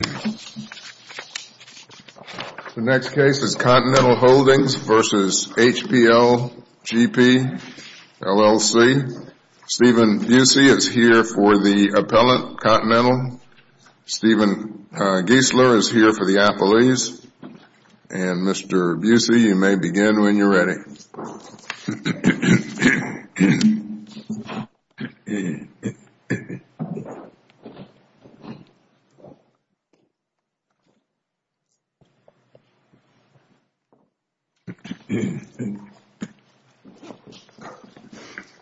The next case is Continental Holdings v. HPLGP, LLC. Steven Busey is here for the appellant, Continental. Steven Giesler is here for the appellees. And, Mr. Busey, you may begin when you're ready. May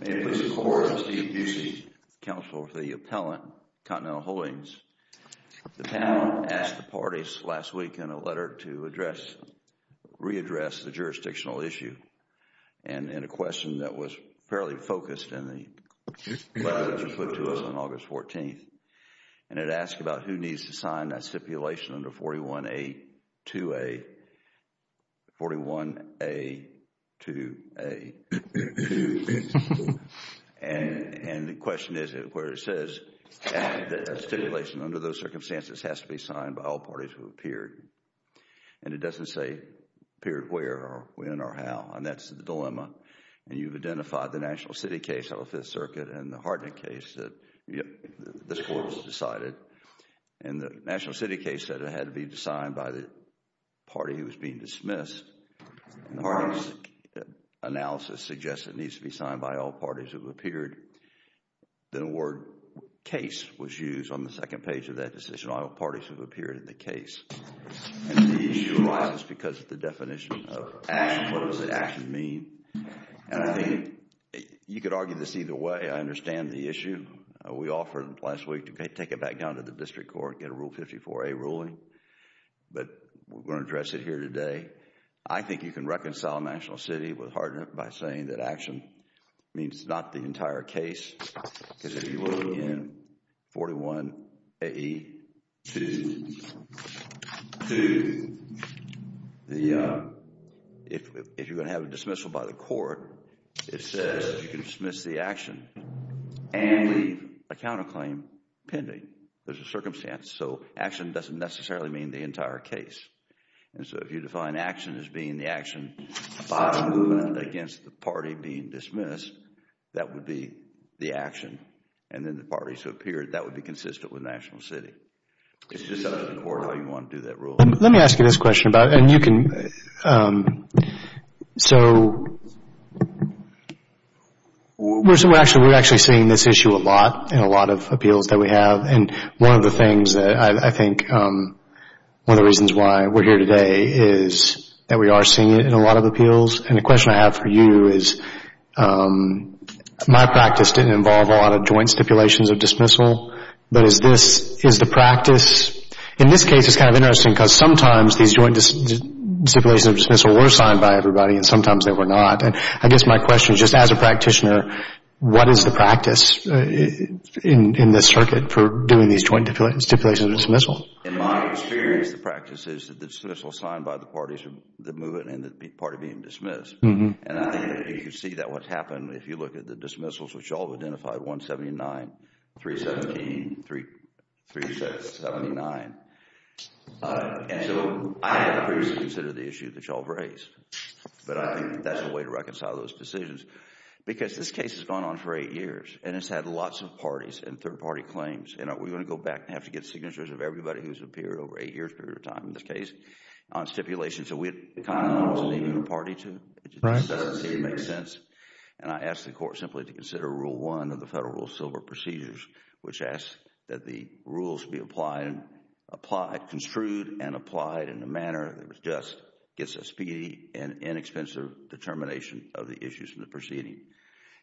it please the Court, I'm Steve Busey, Counselor for the Appellant, Continental Holdings. The panel asked the parties last week in a letter to address, re-address the jurisdictional issue. And in a question that was fairly focused in the letter that was put to us on August 14th. And it asked about who needs to sign that stipulation under 41A-2A, 41A-2A-2. And the question is where it says that stipulation under those circumstances has to be signed by all parties who appeared. And it doesn't say appeared where or when or how. And that's the dilemma. And you've identified the National City case of the Fifth Circuit and the Hartnett case that this Court has decided. And the National City case said it had to be signed by the party who was being dismissed. And the Hartnett analysis suggests it needs to be signed by all parties who have appeared. The word case was used on the second page of that decision, all parties who have appeared in the case. And the issue arises because of the definition of action. What does the action mean? And I think you could argue this either way. I understand the issue. We offered last week to take it back down to the District Court and get a Rule 54A ruling. But we're going to address it here today. I think you can reconcile National City with Hartnett by saying that action means not the entire case. Because if you look in 41AE2, if you're going to have a dismissal by the court, it says you can dismiss the action and leave a counterclaim pending. There's a circumstance. So action doesn't necessarily mean the entire case. And so if you define action as being the action about a movement against the party being dismissed, that would be the action. And then the parties who appeared, that would be consistent with National City. It's just up to the court how you want to do that ruling. Let me ask you this question about it. And you can, so we're actually seeing this issue a lot in a lot of appeals that we have. And one of the things that I think, one of the reasons why we're here today is that we are seeing it in a lot of appeals. And the question I have for you is my practice didn't involve a lot of joint stipulations of dismissal. But is this, is the practice, in this case it's kind of interesting because sometimes these joint stipulations of dismissal were signed by everybody and sometimes they were not. And I guess my question is just as a practitioner, what is the practice in this circuit for doing these joint stipulations of dismissal? In my experience, the practice is that the dismissal is signed by the parties that move it and the party being dismissed. And I think that you can see that what's happened if you look at the dismissals, which you all have identified, 179, 317, 379. And so I have previously considered the issue that you all have raised. But I think that's the way to reconcile those decisions. Because this case has gone on for eight years and it's had lots of parties and third party claims. And we're going to go back and have to get signatures of everybody who's appeared over eight years' period of time in this case on stipulations. So we kind of know who to leave the party to. It just doesn't seem to make sense. And I ask the court simply to consider Rule 1 of the Federal Rule of Civil Procedures, which asks that the rules be applied, construed and applied in a manner that just gets a speedy and inexpensive determination of the issues in the proceeding.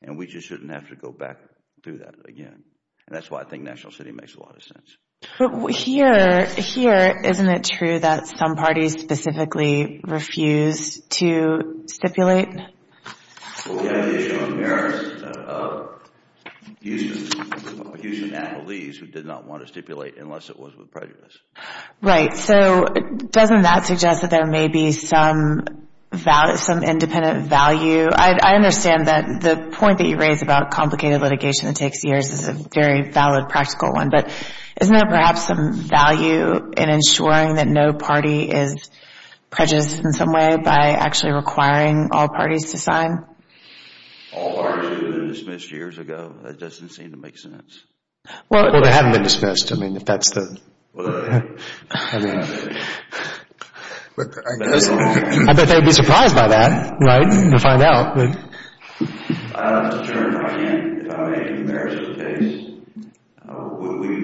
And we just shouldn't have to go back through that again. And that's why I think National City makes a lot of sense. But here, isn't it true that some parties specifically refused to stipulate? Well, we have the issue of the merits of Houston. Houston had police who did not want to stipulate unless it was with prejudice. Right. So doesn't that suggest that there may be some independent value? I understand that the point that you raise about complicated litigation that takes years is a very valid, practical one. But isn't there perhaps some value in ensuring that no party is prejudiced in some way by actually requiring all parties to sign? All parties have been dismissed years ago. That doesn't seem to make sense. Well, they haven't been dismissed. I mean, if that's the... Well, they haven't. I mean... I bet they'd be surprised by that, right, to find out. Mr. Chairman, if I may, the merits of the case.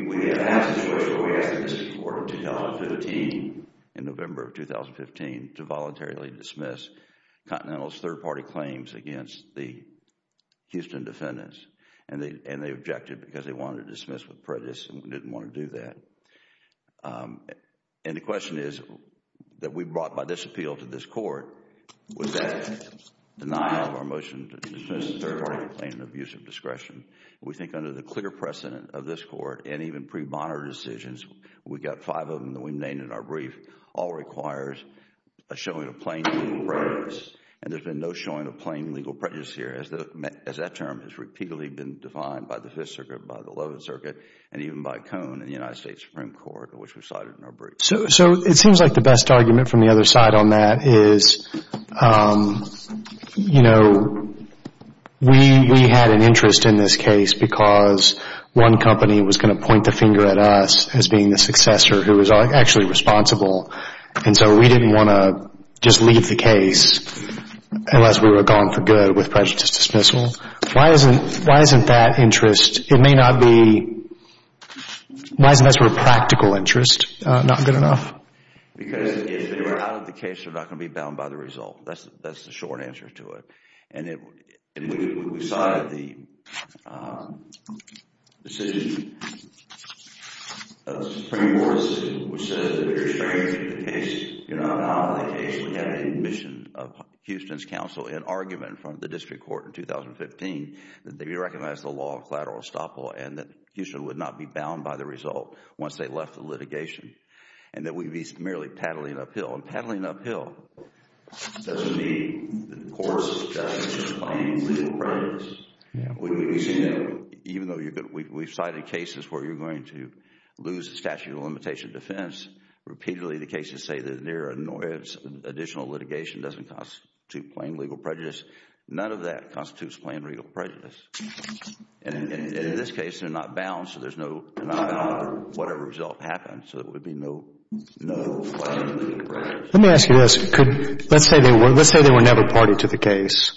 We had a situation where we asked the District Court in 2015, in November of 2015, to voluntarily dismiss Continental's third party claims against the Houston defendants. And they objected because they wanted to dismiss with prejudice and didn't want to do that. And the question is that we brought by this appeal to this Court was that denial of our motion to dismiss the third party claim of abuse of discretion. We think under the clear precedent of this Court and even pre-bonner decisions, we've got five of them that we've named in our brief, all requires a showing of plain legal prejudice. And there's been no showing of plain legal prejudice here as that term has repeatedly been defined by the Fifth Circuit, by the 11th Circuit, and even by Cone and the United States Supreme Court, which we cited in our brief. So it seems like the best argument from the other side on that is, you know, we had an interest in this case because one company was going to point the finger at us as being the successor who was actually responsible. And so we didn't want to just leave the case unless we were gone for good with prejudice dismissal. Why isn't that interest, it may not be, why isn't that sort of practical interest not good enough? Because if they were out of the case, they're not going to be bound by the result. That's the short answer to it. And we cited the decision, the Supreme Court's decision, which says it's very strange that the case, you know, out of the case, we have an admission of Houston's counsel in argument from the district court in 2015 that they recognize the law of collateral estoppel and that Houston would not be bound by the result once they left the litigation. And that we'd be merely paddling uphill. And paddling uphill doesn't mean, of course, that it's just plain legal prejudice. We've seen that even though we've cited cases where you're going to lose the statute of limitation defense, repeatedly the cases say that their additional litigation doesn't constitute plain legal prejudice. None of that constitutes plain legal prejudice. And in this case, they're not bound, so there's not going to be whatever result happens. So it would be no plain legal prejudice. Let me ask you this. Let's say they were never party to the case.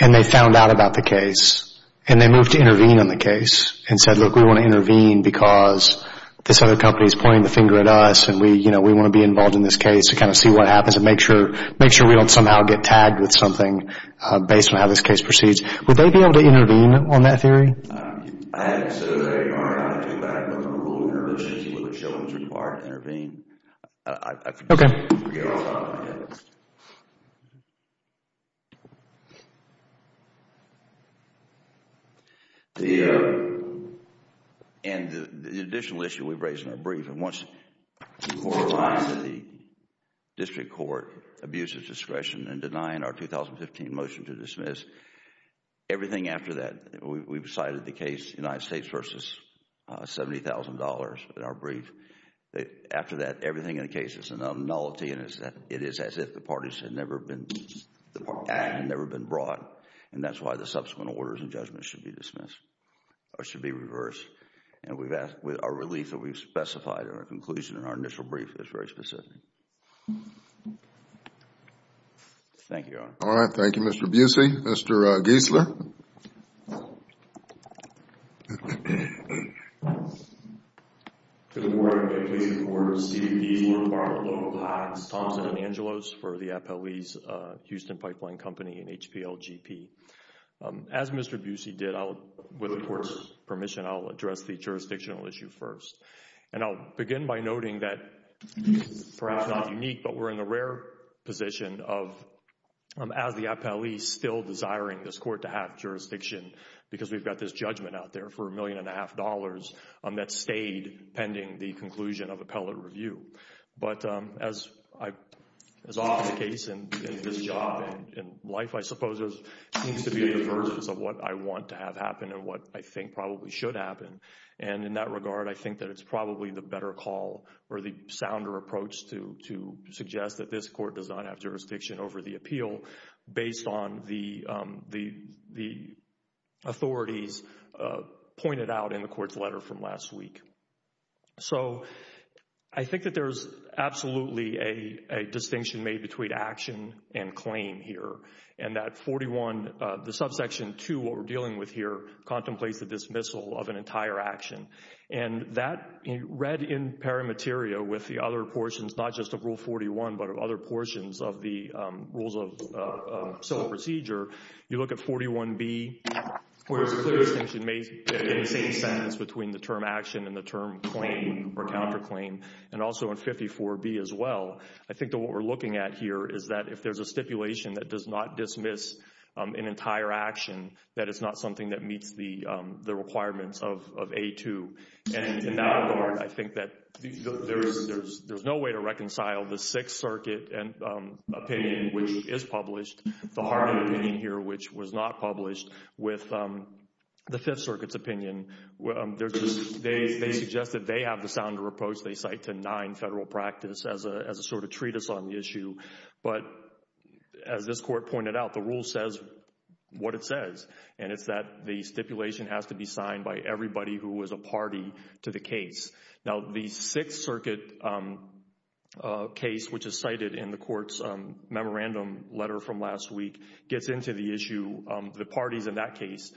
And they found out about the case. And they moved to intervene on the case and said, look, we want to intervene because this other company is pointing the finger at us and we want to be involved in this case to kind of see what happens and make sure we don't somehow get tagged with something based on how this case proceeds. Would they be able to intervene on that theory? I haven't said that they are. I haven't talked about it. But the rule of intervention is where the showman is required to intervene. Okay. I forget all about that. And the additional issue we've raised in our brief. And once the District Court abuses discretion in denying our 2015 motion to dismiss, everything after that, we've cited the case United States versus $70,000 in our brief. After that, everything in the case is a nullity and it is as if the parties had never been brought. And that's why the subsequent orders and judgments should be dismissed or should be reversed. And we've asked with our relief that we've specified our conclusion in our initial brief that's very specific. Thank you, Your Honor. All right. Thank you, Mr. Busey. Mr. Giesler. Good morning. I'm pleased to report Steve Giesler, part of the local class, Thompson and Angelos for the FLE's Houston Pipeline Company and HPLGP. As Mr. Busey did, with the court's permission, I'll address the jurisdictional issue first. And I'll begin by noting that perhaps not unique, but we're in a rare position of, as the FLE, still desiring this court to have jurisdiction because we've got this judgment out there for a million and a half dollars that stayed pending the conclusion of appellate review. But as often the case in this job and in life, I suppose there seems to be a divergence of what I want to have happen and what I think probably should happen. And in that regard, I think that it's probably the better call or the sounder approach to suggest that this court does not have jurisdiction over the appeal based on the authorities pointed out in the court's letter from last week. So I think that there's absolutely a distinction made between action and claim here. And that 41, the subsection 2, what we're dealing with here, contemplates the dismissal of an entire action. And that, read in pari materia with the other portions, not just of Rule 41, but of other portions of the rules of civil procedure, you look at 41B, where there's a clear distinction made in the same sentence between the term action and the term claim or counterclaim, and also in 54B as well. I think that what we're looking at here is that if there's a stipulation that does not dismiss an entire action, that it's not something that meets the requirements of A2. And in that regard, I think that there's no way to reconcile the Sixth Circuit opinion, which is published, the Harding opinion here, which was not published, with the Fifth Circuit's opinion. They suggest that they have the sounder approach. They cite 109 federal practice as a sort of treatise on the issue. But as this Court pointed out, the rule says what it says, and it's that the stipulation has to be signed by everybody who is a party to the case. Now, the Sixth Circuit case, which is cited in the Court's memorandum letter from last week, gets into the issue. The parties in that case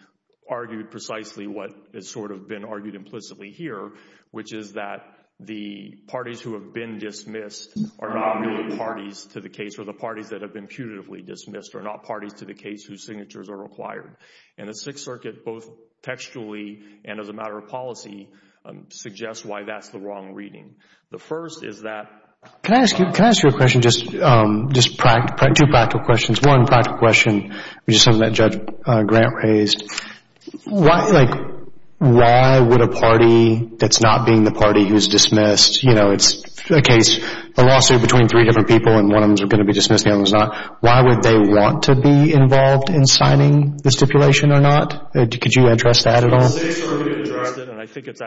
argued precisely what has sort of been argued implicitly here, which is that the parties who have been dismissed are not really parties to the case, or the parties that have been putatively dismissed are not parties to the case whose signatures are required. And the Sixth Circuit, both textually and as a matter of policy, suggests why that's the wrong reading. The first is that— Can I ask you a question, just two practical questions? One practical question, which is something that Judge Grant raised. Like, why would a party that's not being the party who's dismissed—you know, it's a case, a lawsuit between three different people, and one of them's going to be dismissed, the other one's not. Why would they want to be involved in signing the stipulation or not? Could you address that at all? The Sixth Circuit addressed it, and I think it's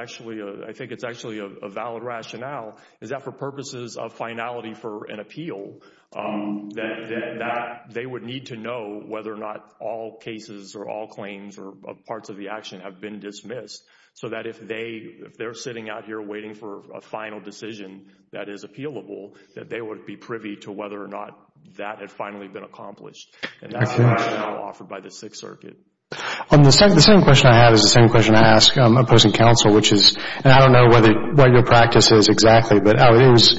actually a valid rationale, is that for purposes of finality for an appeal, that they would need to know whether or not all cases or all claims or parts of the action have been dismissed, so that if they're sitting out here waiting for a final decision that is appealable, that they would be privy to whether or not that had finally been accomplished. And that's the rationale offered by the Sixth Circuit. The second question I have is the same question I ask opposing counsel, which is—and I don't know what your practice is exactly, but it was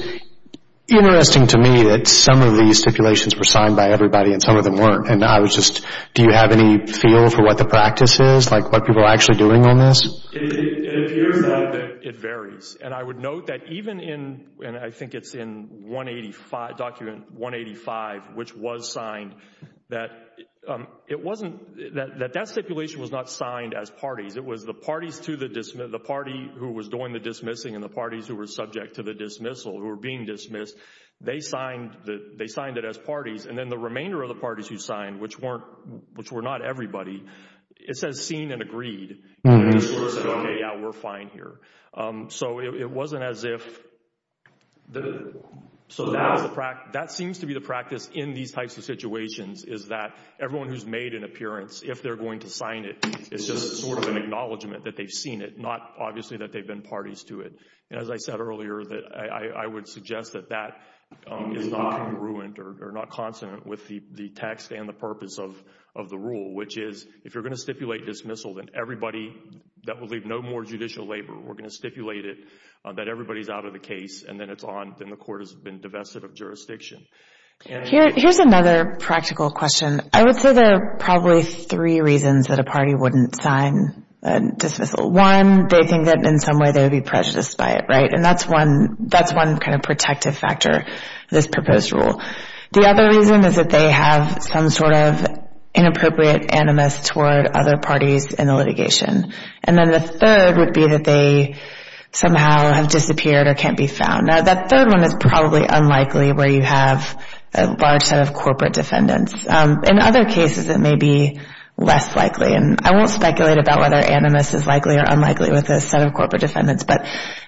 interesting to me that some of these stipulations were signed by everybody and some of them weren't. And I was just—do you have any feel for what the practice is, like what people are actually doing on this? It appears that it varies. And I would note that even in—and I think it's in 185—Document 185, which was signed, that it wasn't—that that stipulation was not signed as parties. It was the parties to the—the party who was doing the dismissing and the parties who were subject to the dismissal who were being dismissed. They signed it as parties, and then the remainder of the parties who signed, which weren't—which were not everybody, it says seen and agreed. And they sort of said, OK, yeah, we're fine here. So it wasn't as if—so that was the practice. That seems to be the practice in these types of situations is that everyone who's made an appearance, if they're going to sign it, it's just sort of an acknowledgment that they've seen it, not obviously that they've been parties to it. And as I said earlier, I would suggest that that is not congruent or not consonant with the text and the purpose of the rule, which is if you're going to stipulate dismissal, then everybody that will leave no more judicial labor, we're going to stipulate it that everybody's out of the case and then it's on—then the court has been divested of jurisdiction. Here's another practical question. I would say there are probably three reasons that a party wouldn't sign a dismissal. One, they think that in some way they would be prejudiced by it, right? And that's one kind of protective factor of this proposed rule. The other reason is that they have some sort of inappropriate animus toward other parties in the litigation. And then the third would be that they somehow have disappeared or can't be found. Now, that third one is probably unlikely where you have a large set of corporate defendants. In other cases, it may be less likely. And I won't speculate about whether animus is likely or unlikely with a set of corporate defendants. But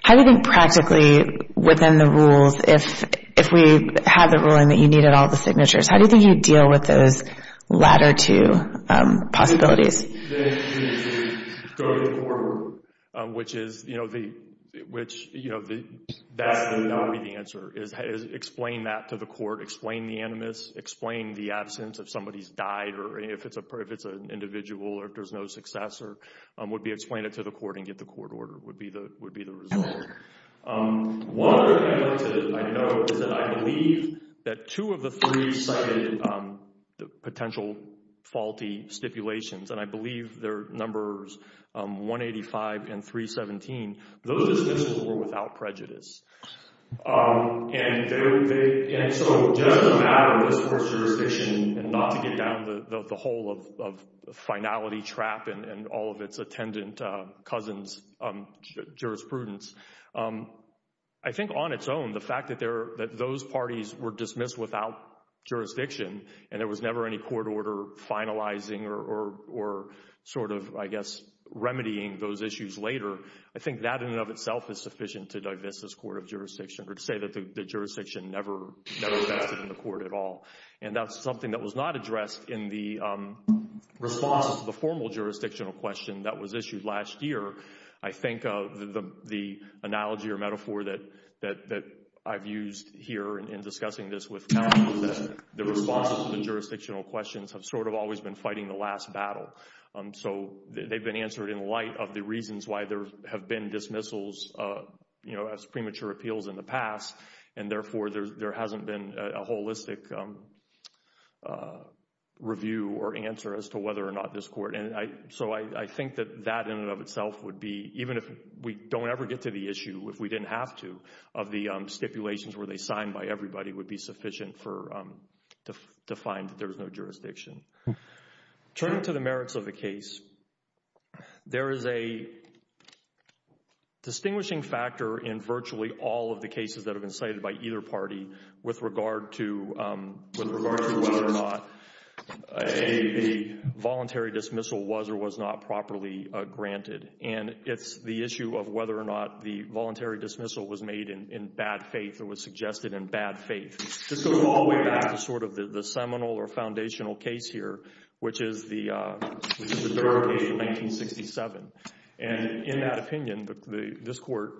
how do you think practically within the rules, if we have the ruling that you needed all the signatures, how do you think you'd deal with those latter two possibilities? Go to the court, which is—that would not be the answer. Explain that to the court. Explain the animus. Explain the absence if somebody's died or if it's an individual or if there's no successor. Explain it to the court and get the court order would be the result. One other thing I'd like to note is that I believe that two of the three cited potential faulty stipulations. And I believe they're numbers 185 and 317. Those dismissals were without prejudice. And so just a matter of this court's jurisdiction and not to get down the hole of finality trap and all of its attendant cousins' jurisprudence. I think on its own, the fact that those parties were dismissed without jurisdiction and there was never any court order finalizing or sort of, I guess, remedying those issues later, I think that in and of itself is sufficient to divest this court of jurisdiction or to say that the jurisdiction never invested in the court at all. And that's something that was not addressed in the response to the formal jurisdictional question that was issued last year. I think the analogy or metaphor that I've used here in discussing this with counsel is that the response to the jurisdictional questions have sort of always been fighting the last battle. So they've been answered in light of the reasons why there have been dismissals, you know, as premature appeals in the past. And therefore, there hasn't been a holistic review or answer as to whether or not this court. And so I think that that in and of itself would be, even if we don't ever get to the issue, if we didn't have to, of the stipulations where they signed by everybody would be sufficient to find that there's no jurisdiction. Turning to the merits of the case, there is a distinguishing factor in virtually all of the cases that have been cited by either party with regard to whether or not a voluntary dismissal was or was not properly granted. And it's the issue of whether or not the voluntary dismissal was made in bad faith or was suggested in bad faith. This goes all the way back to sort of the seminal or foundational case here, which is the Durham case of 1967. And in that opinion, this court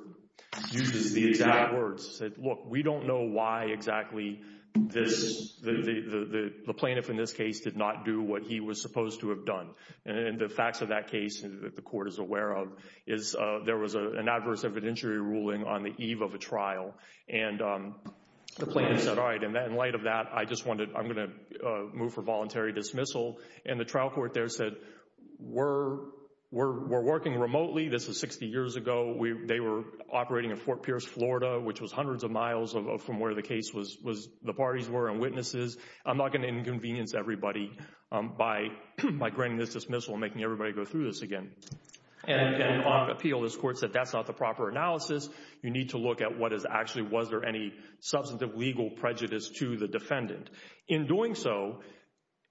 uses the exact words. It said, look, we don't know why exactly the plaintiff in this case did not do what he was supposed to have done. And the facts of that case that the court is aware of is there was an adverse evidentiary ruling on the eve of a trial. And the plaintiff said, all right, in light of that, I'm going to move for voluntary dismissal. And the trial court there said, we're working remotely. This is 60 years ago. They were operating in Fort Pierce, Florida, which was hundreds of miles from where the parties were and witnesses. I'm not going to inconvenience everybody by granting this dismissal and making everybody go through this again. And on appeal, this court said, that's not the proper analysis. You need to look at what is actually, was there any substantive legal prejudice to the defendant. In doing so,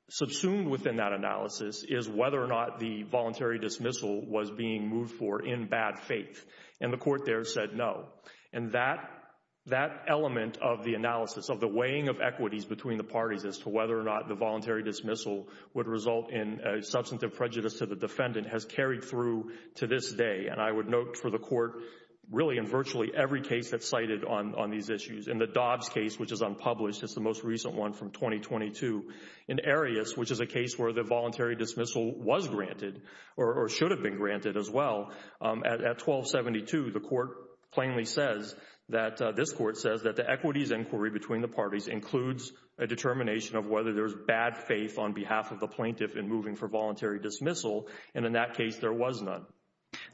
subsumed within that analysis is whether or not the voluntary dismissal was being moved for in bad faith. And the court there said no. And that element of the analysis of the weighing of equities between the parties as to whether or not the voluntary dismissal would result in substantive prejudice to the defendant has carried through to this day. And I would note for the court, really in virtually every case that's cited on these issues. In the Dobbs case, which is unpublished, it's the most recent one from 2022. In Arias, which is a case where the voluntary dismissal was granted or should have been granted as well. At 1272, the court plainly says that this court says that the equities inquiry between the parties includes a determination of whether there's bad faith on behalf of the plaintiff in moving for voluntary dismissal. And in that case, there was none.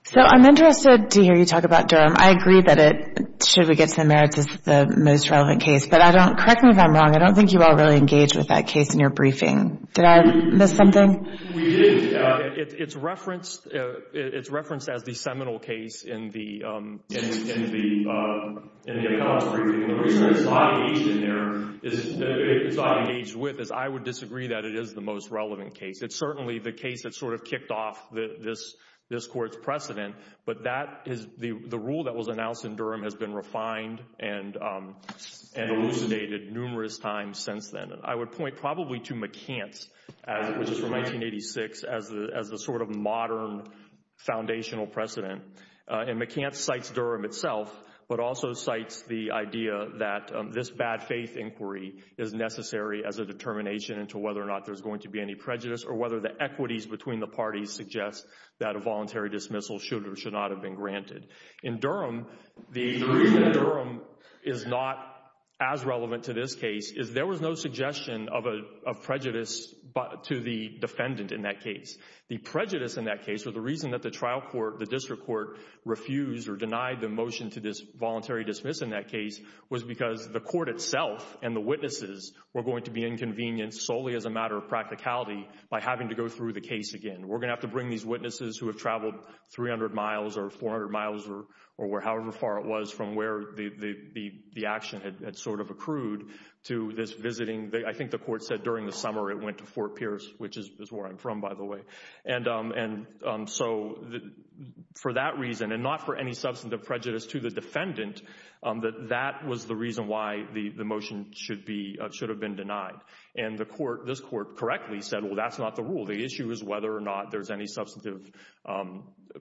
So I'm interested to hear you talk about Durham. I agree that it, should we get to the merits, is the most relevant case. But I don't, correct me if I'm wrong, I don't think you all really engaged with that case in your briefing. Did I miss something? We did. It's referenced as the seminal case in the accounts briefing. And the reason it's not engaged in there, it's not engaged with, is I would disagree that it is the most relevant case. It's certainly the case that sort of kicked off this court's precedent. But that is, the rule that was announced in Durham has been refined and elucidated numerous times since then. I would point probably to McCants, which is from 1986, as the sort of modern foundational precedent. And McCants cites Durham itself, but also cites the idea that this bad faith inquiry is necessary as a determination into whether or not there's going to be any prejudice, or whether the equities between the parties suggest that a voluntary dismissal should or should not have been granted. In Durham, the reason Durham is not as relevant to this case is there was no suggestion of prejudice to the defendant in that case. The prejudice in that case, or the reason that the trial court, the district court, refused or denied the motion to this voluntary dismiss in that case, was because the court itself and the witnesses were going to be inconvenienced solely as a matter of practicality by having to go through the case again. We're going to have to bring these witnesses who have traveled 300 miles or 400 miles or however far it was from where the action had sort of accrued to this visiting. I think the court said during the summer it went to Fort Pierce, which is where I'm from, by the way. And so for that reason, and not for any substantive prejudice to the defendant, that that was the reason why the motion should have been denied. And this court correctly said, well, that's not the rule. The issue is whether or not there's any substantive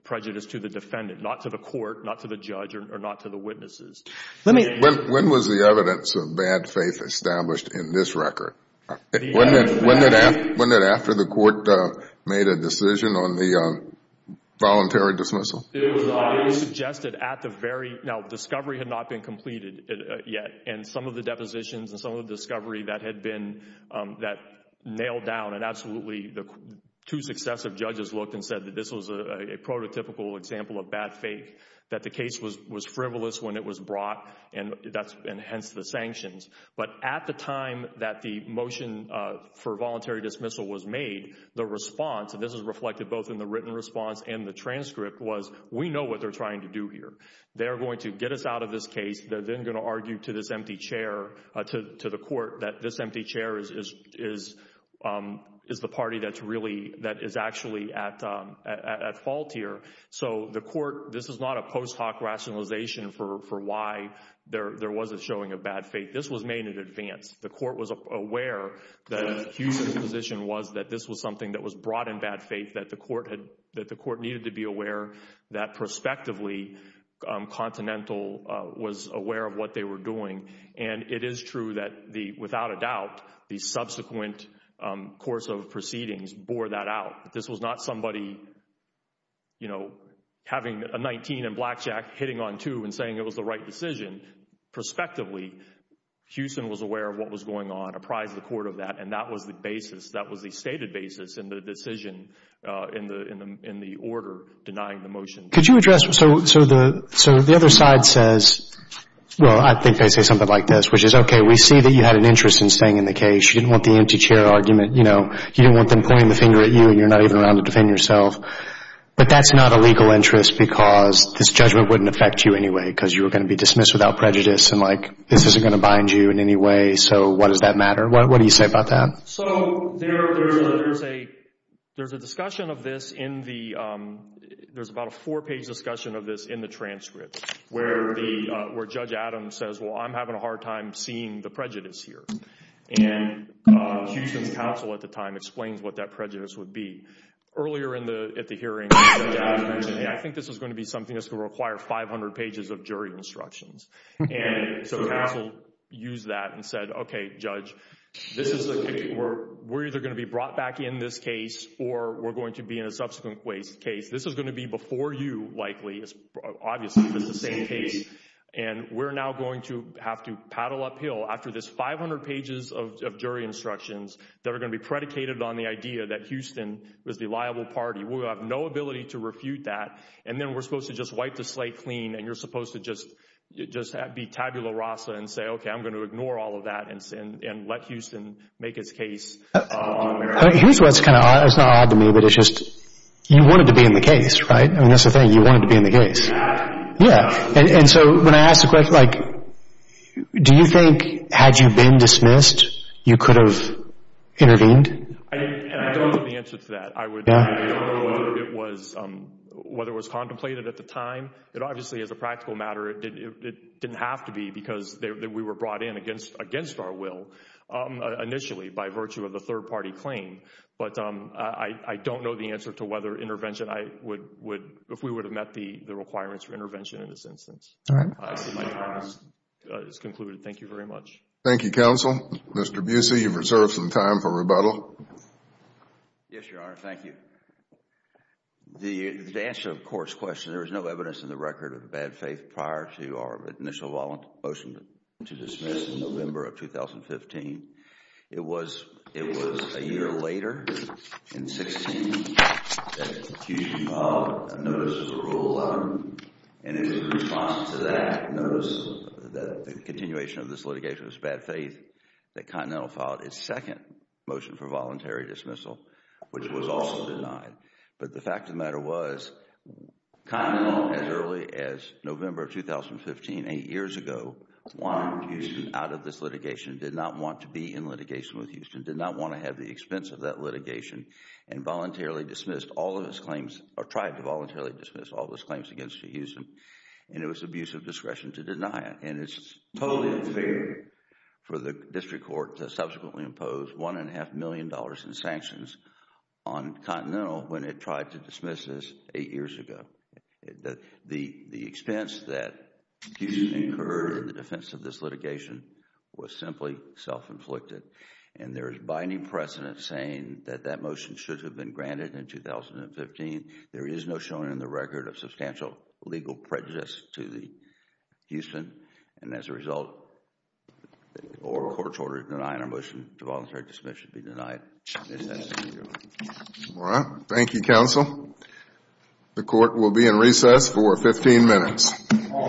prejudice to the defendant, not to the court, not to the judge, or not to the witnesses. When was the evidence of bad faith established in this record? Wasn't it after the court made a decision on the voluntary dismissal? It was suggested at the very, now, discovery had not been completed yet, and some of the depositions and some of the discovery that had been, that nailed down and absolutely the two successive judges looked and said that this was a prototypical example of bad faith, that the case was frivolous when it was brought, and hence the sanctions. But at the time that the motion for voluntary dismissal was made, the response, and this is reflected both in the written response and the transcript, was we know what they're trying to do here. They're going to get us out of this case. They're then going to argue to this empty chair, to the court, that this empty chair is the party that's really, that is actually at fault here. So the court, this is not a post hoc rationalization for why there was a showing of bad faith. This was made in advance. The court was aware that Hughes' position was that this was something that was brought in bad faith, that the court needed to be aware that prospectively Continental was aware of what they were doing. And it is true that the, without a doubt, the subsequent course of proceedings bore that out. This was not somebody, you know, having a 19 and blackjack, hitting on two and saying it was the right decision. Prospectively, Houston was aware of what was going on, apprised the court of that, and that was the basis. That was the stated basis in the decision, in the order denying the motion. Could you address, so the other side says, well, I think they say something like this, which is, okay, we see that you had an interest in staying in the case. You didn't want the empty chair argument. You know, you didn't want them pointing the finger at you, and you're not even around to defend yourself. But that's not a legal interest because this judgment wouldn't affect you anyway, because you were going to be dismissed without prejudice and, like, this isn't going to bind you in any way. So what does that matter? What do you say about that? So there's a discussion of this in the, there's about a four-page discussion of this in the transcript, where Judge Adams says, well, I'm having a hard time seeing the prejudice here. And Houston's counsel at the time explains what that prejudice would be. Earlier in the, at the hearing, Judge Adams mentioned, hey, I think this is going to be something that's going to require 500 pages of jury instructions. And so the counsel used that and said, okay, Judge, this is, we're either going to be brought back in this case or we're going to be in a subsequent waste case. This is going to be before you, likely, obviously, but it's the same case. And we're now going to have to paddle uphill after this 500 pages of jury instructions that are going to be predicated on the idea that Houston was the liable party. We'll have no ability to refute that. And then we're supposed to just wipe the slate clean and you're supposed to just be tabula rasa and say, okay, I'm going to ignore all of that and let Houston make its case on America. Here's what's kind of odd. It's not odd to me, but it's just you wanted to be in the case, right? I mean, that's the thing. You wanted to be in the case. Yeah. And so when I ask the question, like, do you think, had you been dismissed, you could have intervened? I don't know the answer to that. I don't know whether it was contemplated at the time. It obviously, as a practical matter, it didn't have to be because we were brought in against our will initially by virtue of the third party claim. But I don't know the answer to whether intervention, if we would have met the requirements for intervention in this instance. All right. My time has concluded. Thank you very much. Thank you, counsel. Mr. Busey, you've reserved some time for rebuttal. Yes, Your Honor. Thank you. The answer to the court's question, there was no evidence in the record of bad faith prior to our initial motion to dismiss in November of 2015. It was a year later, in 2016, that Cushing filed a notice of parole letter. And in response to that notice, the continuation of this litigation was bad faith, that Continental filed its second motion for voluntary dismissal, which was also denied. But the fact of the matter was, Continental, as early as November of 2015, eight years ago, wanted Houston out of this litigation, did not want to be in litigation with Houston, did not want to have the expense of that litigation, and voluntarily dismissed all of its claims, or tried to voluntarily dismiss all of its claims against Houston. And it was abuse of discretion to deny it. And it's totally unfair for the district court to subsequently impose $1.5 million in sanctions on Continental when it tried to dismiss this eight years ago. The expense that Houston incurred in the defense of this litigation was simply self-inflicted. And there is binding precedent saying that that motion should have been granted in 2015. There is no showing in the record of substantial legal prejudice to Houston. And as a result, the oral court's order to deny our motion to voluntarily dismiss should be denied. All right. Thank you, counsel. The court will be in recess for 15 minutes. All rise.